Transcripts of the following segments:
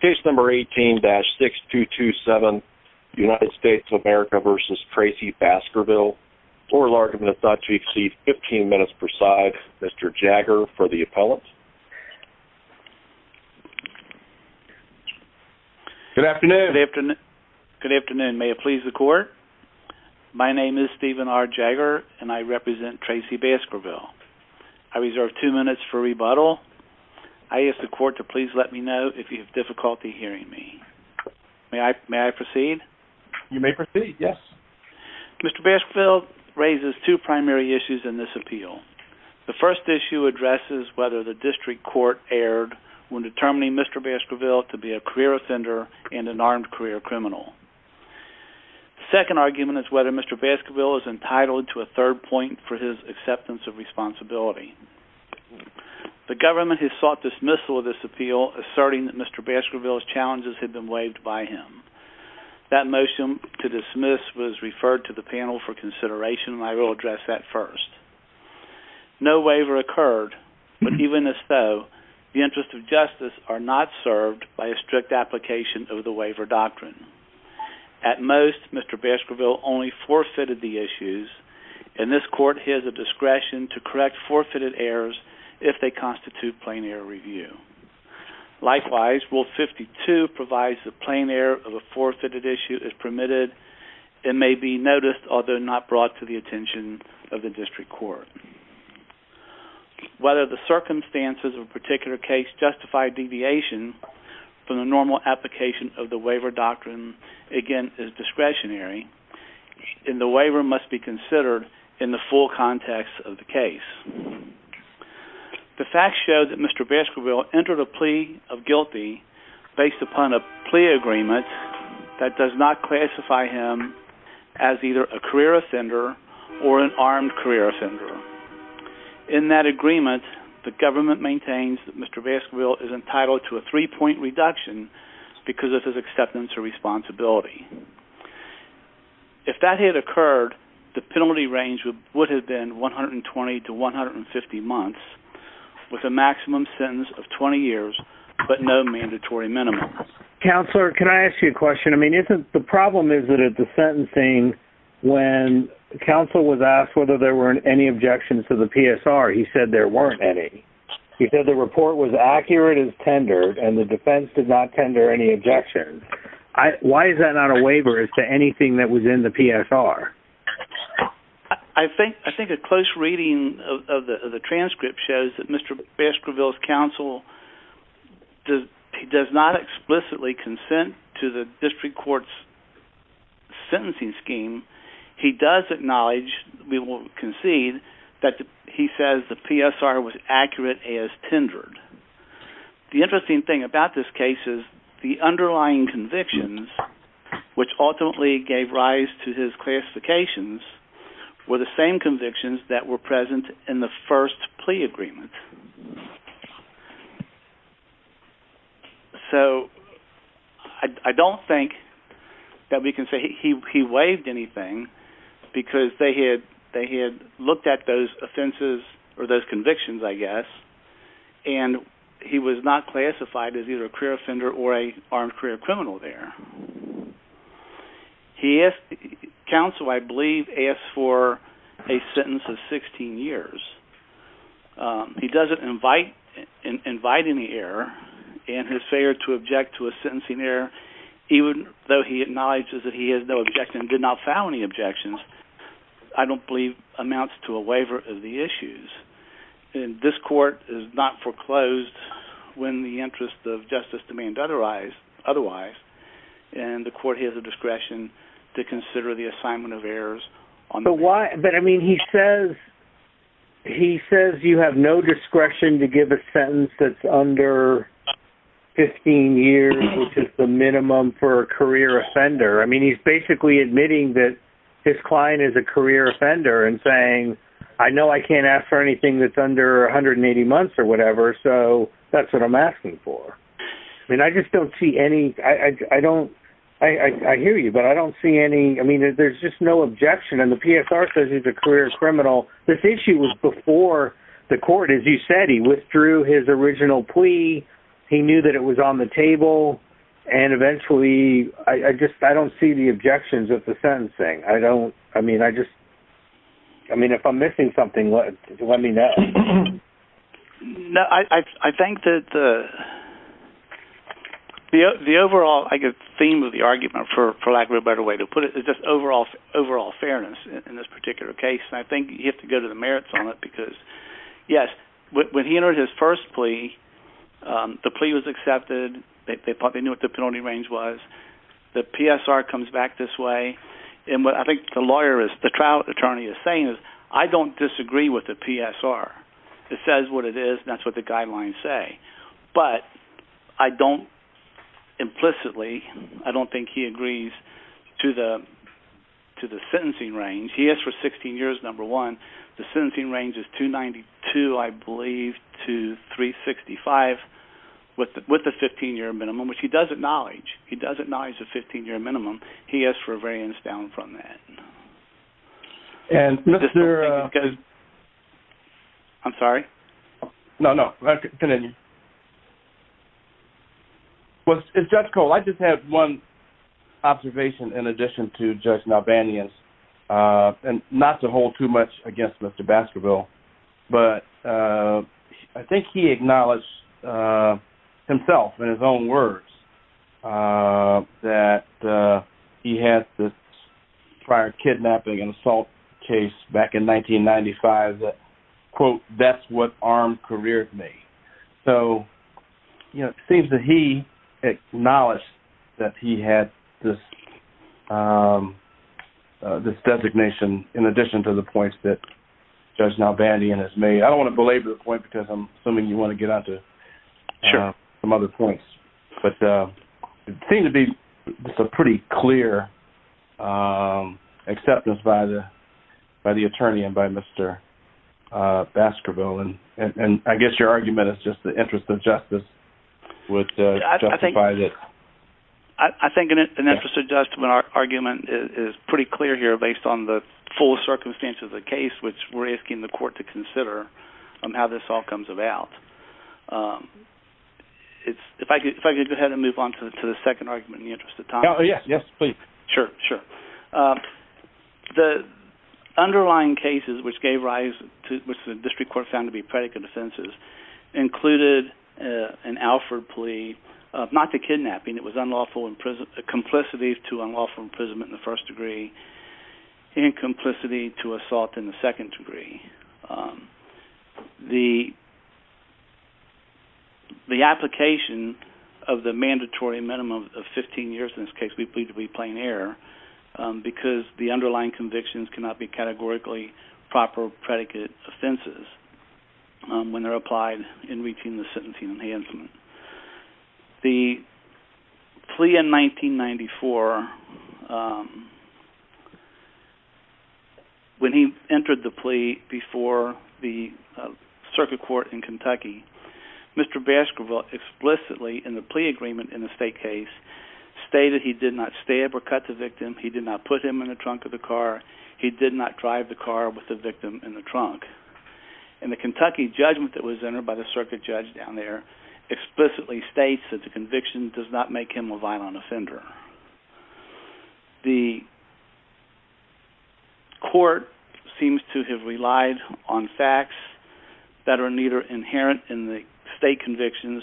Case number 18-6227 United States of America v. Tracy Baskerville Oral argument of thought, Chief Seed, 15 minutes per side Mr. Jagger for the appellant Good afternoon Good afternoon, may it please the court My name is Stephen R. Jagger and I represent Tracy Baskerville I reserve two minutes for rebuttal I ask the court to please let me know if you have difficulty hearing me May I proceed? You may proceed, yes Mr. Baskerville raises two primary issues in this appeal The first issue addresses whether the district court erred when determining Mr. Baskerville to be a career offender and an armed career criminal The second argument is whether Mr. Baskerville is entitled to a third point for his acceptance of responsibility The government has sought dismissal of this appeal, asserting that Mr. Baskerville's challenges had been waived by him That motion to dismiss was referred to the panel for consideration and I will address that first No waiver occurred, but even as though, the interests of justice are not served by a strict application of the waiver doctrine At most, Mr. Baskerville only forfeited the issues and this court has the discretion to correct forfeited errors if they constitute plain error review Likewise, Rule 52 provides that plain error of a forfeited issue is permitted and may be noticed, although not brought to the attention of the district court Whether the circumstances of a particular case justify deviation from the normal application of the waiver doctrine again, is discretionary and the waiver must be considered in the full context of the case The facts show that Mr. Baskerville entered a plea of guilty based upon a plea agreement that does not classify him as either a career offender or an armed career offender In that agreement, the government maintains that Mr. Baskerville is entitled to a three-point reduction because of his acceptance or responsibility If that had occurred, the penalty range would have been 120 to 150 months with a maximum sentence of 20 years but no mandatory minimum Counselor, can I ask you a question? The problem is that at the sentencing when counsel was asked whether there were any objections to the PSR, he said there weren't any He said the report was accurate as tendered and the defense did not tender any objections Why is that not a waiver as to anything that was in the PSR? I think a close reading of the transcript shows that Mr. Baskerville's counsel does not explicitly consent to the district court's sentencing scheme He does acknowledge, we will concede, that he says the PSR was accurate as tendered The interesting thing about this case is the underlying convictions which ultimately gave rise to his classifications were the same convictions that were present in the first plea agreement So I don't think that we can say he waived anything because they had looked at those offenses or those convictions, I guess and he was not classified as either a career offender or an armed career criminal there Counsel, I believe, asked for a sentence of 16 years He doesn't invite any error and his failure to object to a sentencing error even though he acknowledges that he has no objection and did not file any objections I don't believe amounts to a waiver of the issues and this court is not foreclosed when the interest of justice demands otherwise and the court has the discretion to consider the assignment of errors But why, I mean, he says he says you have no discretion to give a sentence that's under 15 years, which is the minimum for a career offender. I mean, he's basically admitting that his client is a career offender and saying I know I can't ask for anything that's under 180 months or whatever, so that's what I'm asking for And I just don't see any, I don't I hear you, but I don't see any, I mean, there's just no objection and the PSR says he's a career criminal This issue was before the court, as you said, he withdrew his original plea he knew that it was on the table and eventually, I just, I don't see the objections of the sentencing. I don't, I mean, I just I mean, if I'm missing something, let me know No, I think that the the overall theme of the argument, for lack of a better way to put it, is just overall fairness in this particular case, and I think you have to go to the merits on it because yes, when he entered his first plea the plea was accepted, they probably knew what the penalty range was the PSR comes back this way and what I think the lawyer is, the trial attorney is saying is I don't disagree with the PSR it says what it is and that's what the guidelines say but I don't implicitly, I don't think he agrees to the to the sentencing range. He asked for 16 years, number one the sentencing range is 292, I believe, to 365 with the 15-year minimum, which he does acknowledge he does acknowledge the 15-year minimum he asked for a variance down from that And, Mr. I'm sorry? No, no, continue Well, Judge Cole, I just have one observation in addition to Judge Nalbanian's not to hold too much against Mr. Baskerville but I think he acknowledged himself, in his own words that he had this prior kidnapping and assault case back in 1995 that quote, that's what armed careers mean so you know, it seems that he acknowledged that he had this designation in addition to the points that Judge Nalbanian has made. I don't want to belabor the point because I'm assuming you want to get onto some other points but it seemed to be pretty clear acceptance by the by the attorney and by Mr. Baskerville and I guess your argument is just the interest of justice would justify this I think an interest of justice argument is pretty clear here based on the full circumstances of the case which we're asking the court to consider on how this all comes about If I could go ahead and move on to the second argument in the interest of time Sure, sure The underlying cases which gave rise which the district court found to be predicate offenses included an Alford plea not to kidnapping, it was complicity to unlawful imprisonment in the first degree and complicity to assault in the second degree the the application of the mandatory minimum of fifteen years in this case we believe to be plain error because the underlying convictions cannot be categorically proper predicate offenses when they're applied in reaching the sentencing enhancement The plea in 1994 when he entered the plea before the circuit court in Kentucky Mr. Baskerville explicitly in the plea agreement in the state case stated he did not stab or cut the victim, he did not put him in the trunk of the car he did not drive the car with the victim in the trunk and the Kentucky judgment that was entered by the circuit judge down there explicitly states that the conviction does not make him a violent offender The court seems to have relied on facts that are neither inherent in the state convictions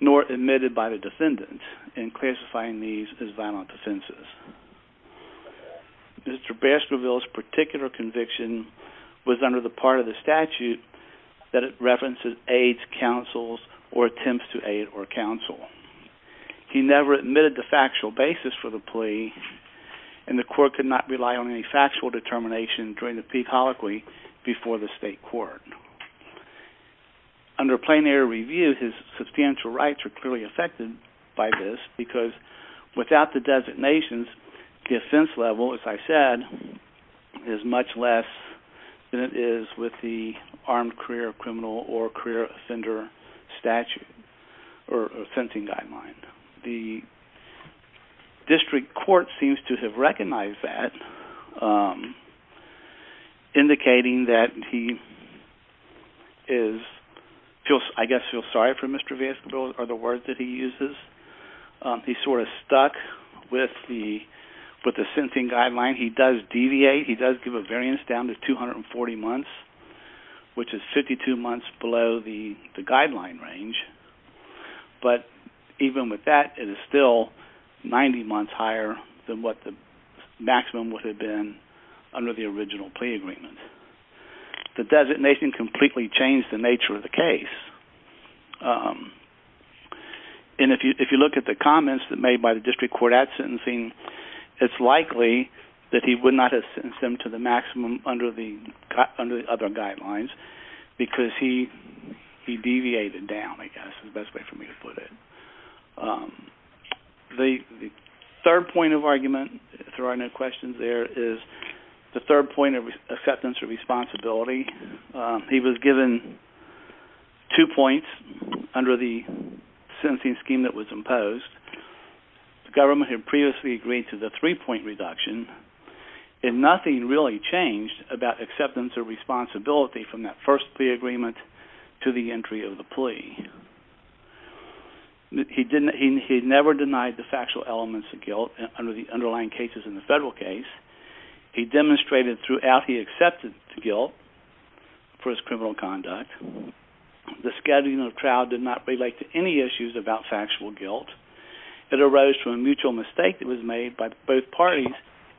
nor admitted by the defendant in classifying these as violent offenses Mr. Baskerville's particular conviction was under the part of the statute that it references aids, counsels, or attempts to aid or counsel He never admitted the factual basis for the plea and the court could not rely on any factual determination during the plea colloquy before the state court Under plain error review, his substantial rights were clearly affected by this because without the designations the offense level, as I said, is much less than it is with the armed career criminal or career offender statute or offensing guideline The district court seems to have recognized that indicating that he I guess feels sorry for Mr. Baskerville or the words that he uses He's sort of stuck with the with the sentencing guideline. He does deviate, he does give a variance down to 240 months which is 52 months below the guideline range but even with that it is still 90 months higher than what the maximum would have been under the original plea agreement The designation completely changed the nature of the case and if you look at the comments made by the district court at sentencing it's likely that he would not have sentenced him to the maximum under the other guidelines because he he deviated down, I guess, is the best way for me to put it The third point of argument if there are no questions there, is the third point of acceptance or responsibility He was given two points under the sentencing scheme that was imposed The government had previously agreed to the three-point reduction and nothing really changed about acceptance or responsibility from that first plea agreement to the entry of the plea He never denied the factual elements of guilt under the underlying cases in the federal case He demonstrated throughout he accepted guilt for his criminal conduct The scheduling of trial did not relate to any issues about factual guilt It arose from a mutual mistake that was made by both parties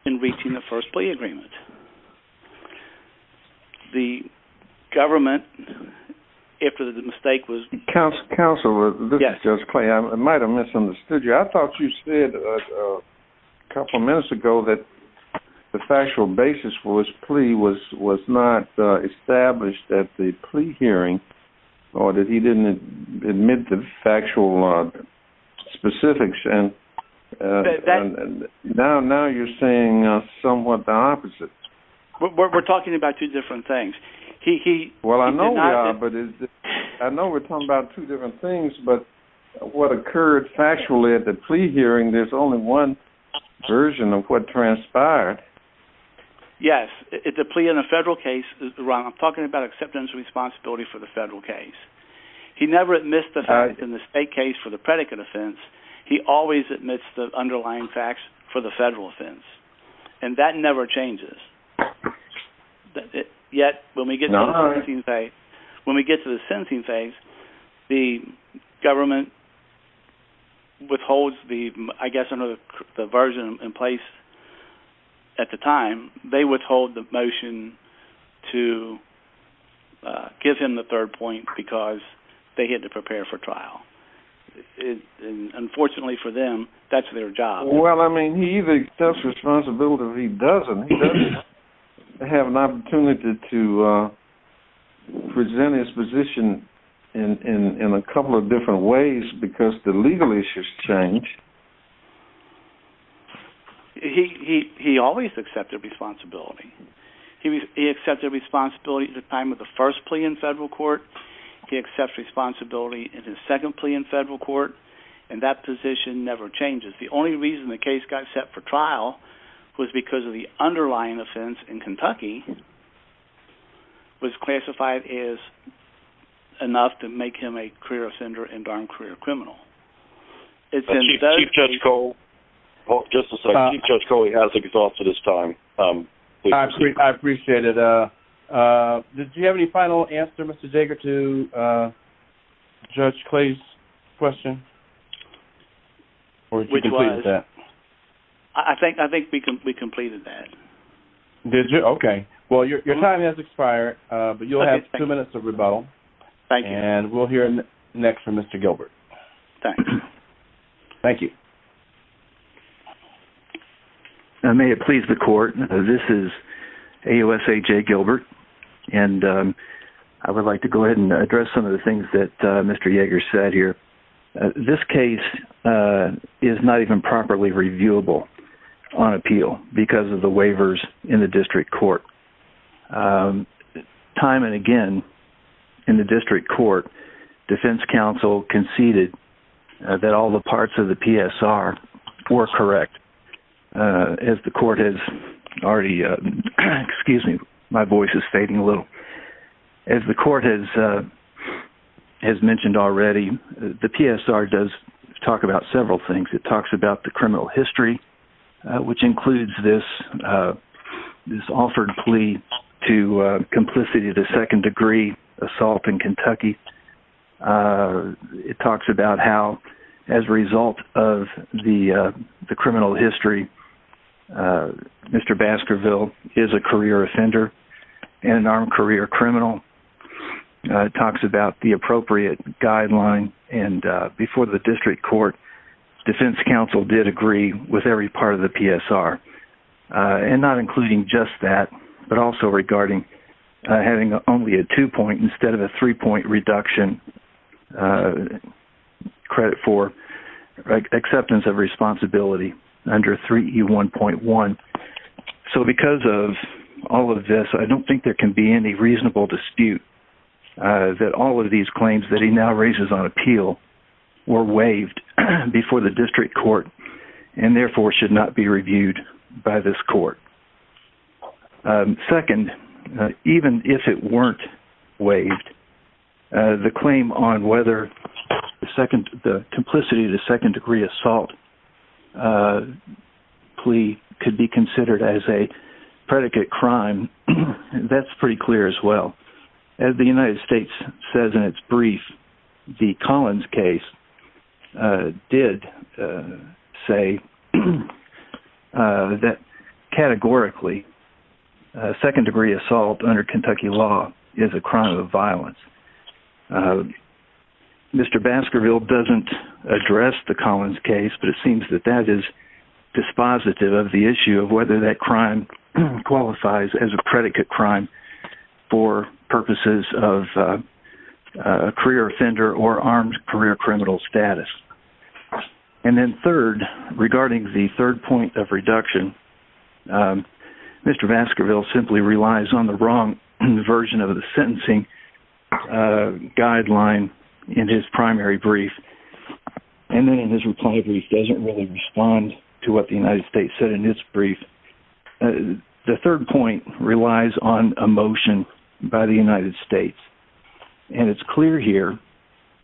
in reaching the first plea agreement The government after the mistake was... Counselor, this is Judge Clay, I might have misunderstood you. I thought you said a couple minutes ago that the factual basis for his plea was not established at the plea hearing or that he didn't admit the factual specifics and now you're saying somewhat the opposite We're talking about two different things Well, I know we are, but I know we're talking about two different things, but what occurred factually at the plea hearing, there's only one version of what transpired Yes, the plea in a federal case, Ron, I'm talking about acceptance and responsibility for the federal case He never admits the facts in the state case for the predicate offense He always admits the underlying facts for the federal offense and that never changes Yet, when we get to the sentencing phase when we get to the sentencing phase the government withholds the, I guess, I don't know, the version in place at the time, they withhold the motion to give him the third point because they had to prepare for trial Unfortunately for them, that's their job Well, I mean, he either accepts responsibility or he doesn't He doesn't have an opportunity to present his position in a couple of different ways because the legal issues change He always accepted responsibility He accepted responsibility at the time of the first plea in federal court He accepts responsibility in his second plea in federal court and that position never changes. The only reason the case got set for trial was because of the underlying offense in Kentucky was classified as enough to make him a career offender and darned career criminal Chief Judge Cole Just a second. Chief Judge Cole, he has to be exhausted this time I appreciate it Did you have any final answer, Mr. Jager, to Judge Clay's question? Which was? I think we completed that Did you? Okay. Well, your time has expired but you'll have two minutes of rebuttal and we'll hear next from Mr. Gilbert Thanks Thank you May it please the court, this is AOSHA Gilbert and I would like to go ahead and address some of the things that Mr. Jager said here This case is not even properly reviewable on appeal because of the waivers in the district court Time and again in the district court defense counsel conceded that all the parts of the PSR were correct as the court has already excuse me, my voice is fading a little as the court has has mentioned already, the PSR does talk about several things, it talks about the criminal history which includes this this offered plea to complicity to second-degree assault in Kentucky it talks about how as a result of the criminal history Mr. Baskerville is a career offender and an armed career criminal it talks about the appropriate guideline and before the district court defense counsel did agree with every part of the PSR and not including just that but also regarding having only a two-point instead of a three-point reduction credit for acceptance of responsibility under 3E1.1 so because of all of this, I don't think there can be any reasonable dispute that all of these claims that he now raises on appeal were waived before the district court and therefore should not be reviewed by this court Second, even if it weren't waived the claim on whether the complicity to second-degree assault plea could be considered as a predicate crime that's pretty clear as well as the United States says in its brief the Collins case did say that categorically second-degree assault under Kentucky law is a crime of violence Mr. Baskerville doesn't address the Collins case but it seems that that is dispositive of the issue of whether that crime qualifies as a predicate crime for purposes of a career offender or armed career criminal status and then third, regarding the third point of reduction Mr. Baskerville simply relies on the wrong version of the sentencing guideline in his primary brief and then in his reply brief doesn't really respond to what the United States said in its brief the third point relies on a motion by the United States and it's clear here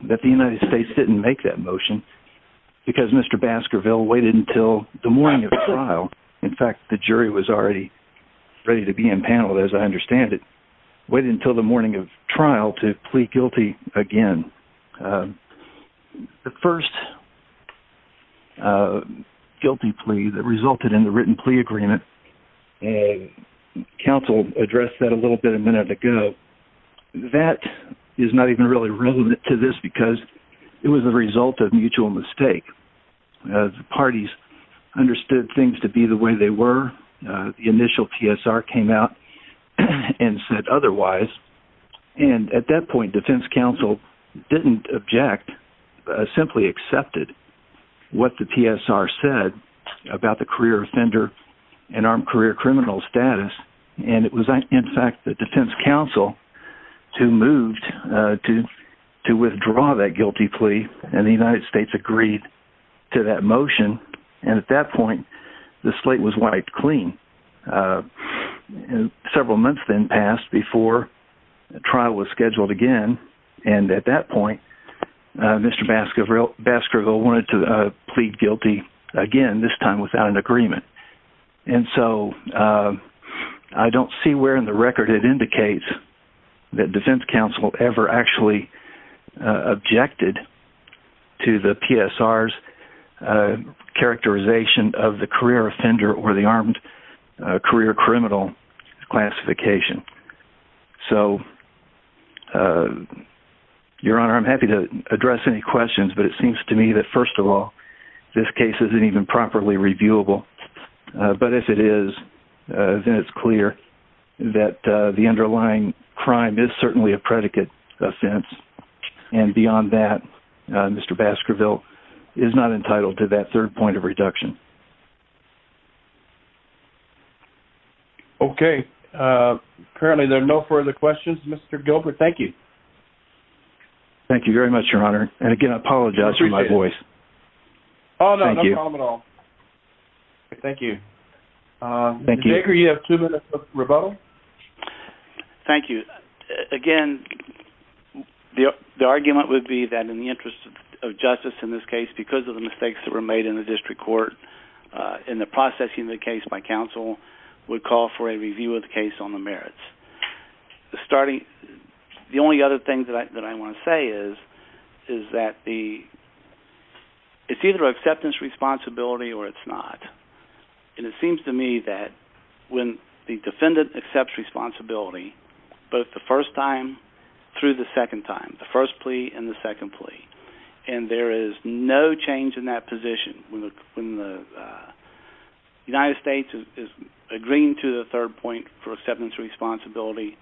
that the United States didn't make that motion because Mr. Baskerville waited until the morning of trial in fact the jury was already ready to be impaneled as I understand it waited until the morning of trial to plea guilty again the first guilty plea that resulted in the written plea agreement and counsel addressed that a little bit a minute ago that is not even really relevant to this because it was a result of mutual mistake the parties understood things to be the way they were the initial TSR came out and said otherwise and at that point defense counsel didn't object simply accepted what the TSR said about the career offender and armed career criminal status and it was in fact the defense counsel who moved to to withdraw that guilty plea and the United States agreed to that motion and at that point the slate was wiped clean several months then passed before trial was scheduled again and at that point Mr. Baskerville wanted to plead guilty again this time without an agreement and so I don't see where in the record it indicates that defense counsel ever actually objected to the TSR's characterization of the career offender or the armed career criminal classification so your honor I'm happy to address any questions but it seems to me that first of all this case isn't even properly reviewable but if it is then it's clear that the underlying crime is certainly a predicate offense and beyond that Mr. Baskerville is not entitled to that third point of reduction okay currently there are no further questions Mr. Gilbert thank you thank you very much your honor and again I apologize for my voice oh no no problem at all thank you Mr. Baker you have two minutes of rebuttal thank you again the argument would be that in the interest of justice in this case because of the mistakes that were made in the district court in the processing of the case by counsel would call for a review of the case on the merits the starting the only other thing that I want to say is is that the it's either acceptance responsibility or it's not and it seems to me that when the defendant accepts responsibility both the first time through the second time the first plea and the second plea and there is no change in that position when the United States is agreeing to the third point for acceptance responsibility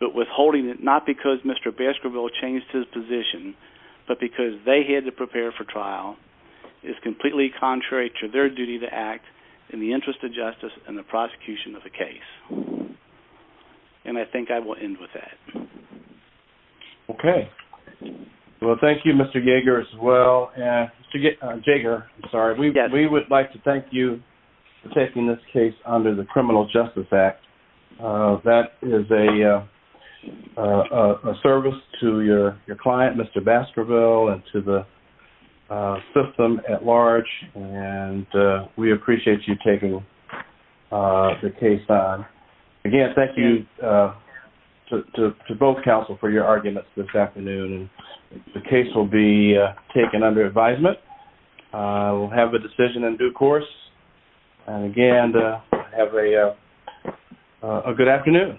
but withholding it not because Mr. Baskerville changed his position but because they had to prepare for trial is completely contrary to their duty to act in the interest of justice and the prosecution of the case and I think I will end with that okay well thank you Mr. Yeager as well Mr. Yeager, I'm sorry we would like to thank you for taking this case under the Criminal Justice Act that is a service to your client Mr. Baskerville and to the system at large and we appreciate you taking the case on again thank you to both counsel for your arguments this afternoon the case will be taken under advisement we'll have a decision in due course and again have a good afternoon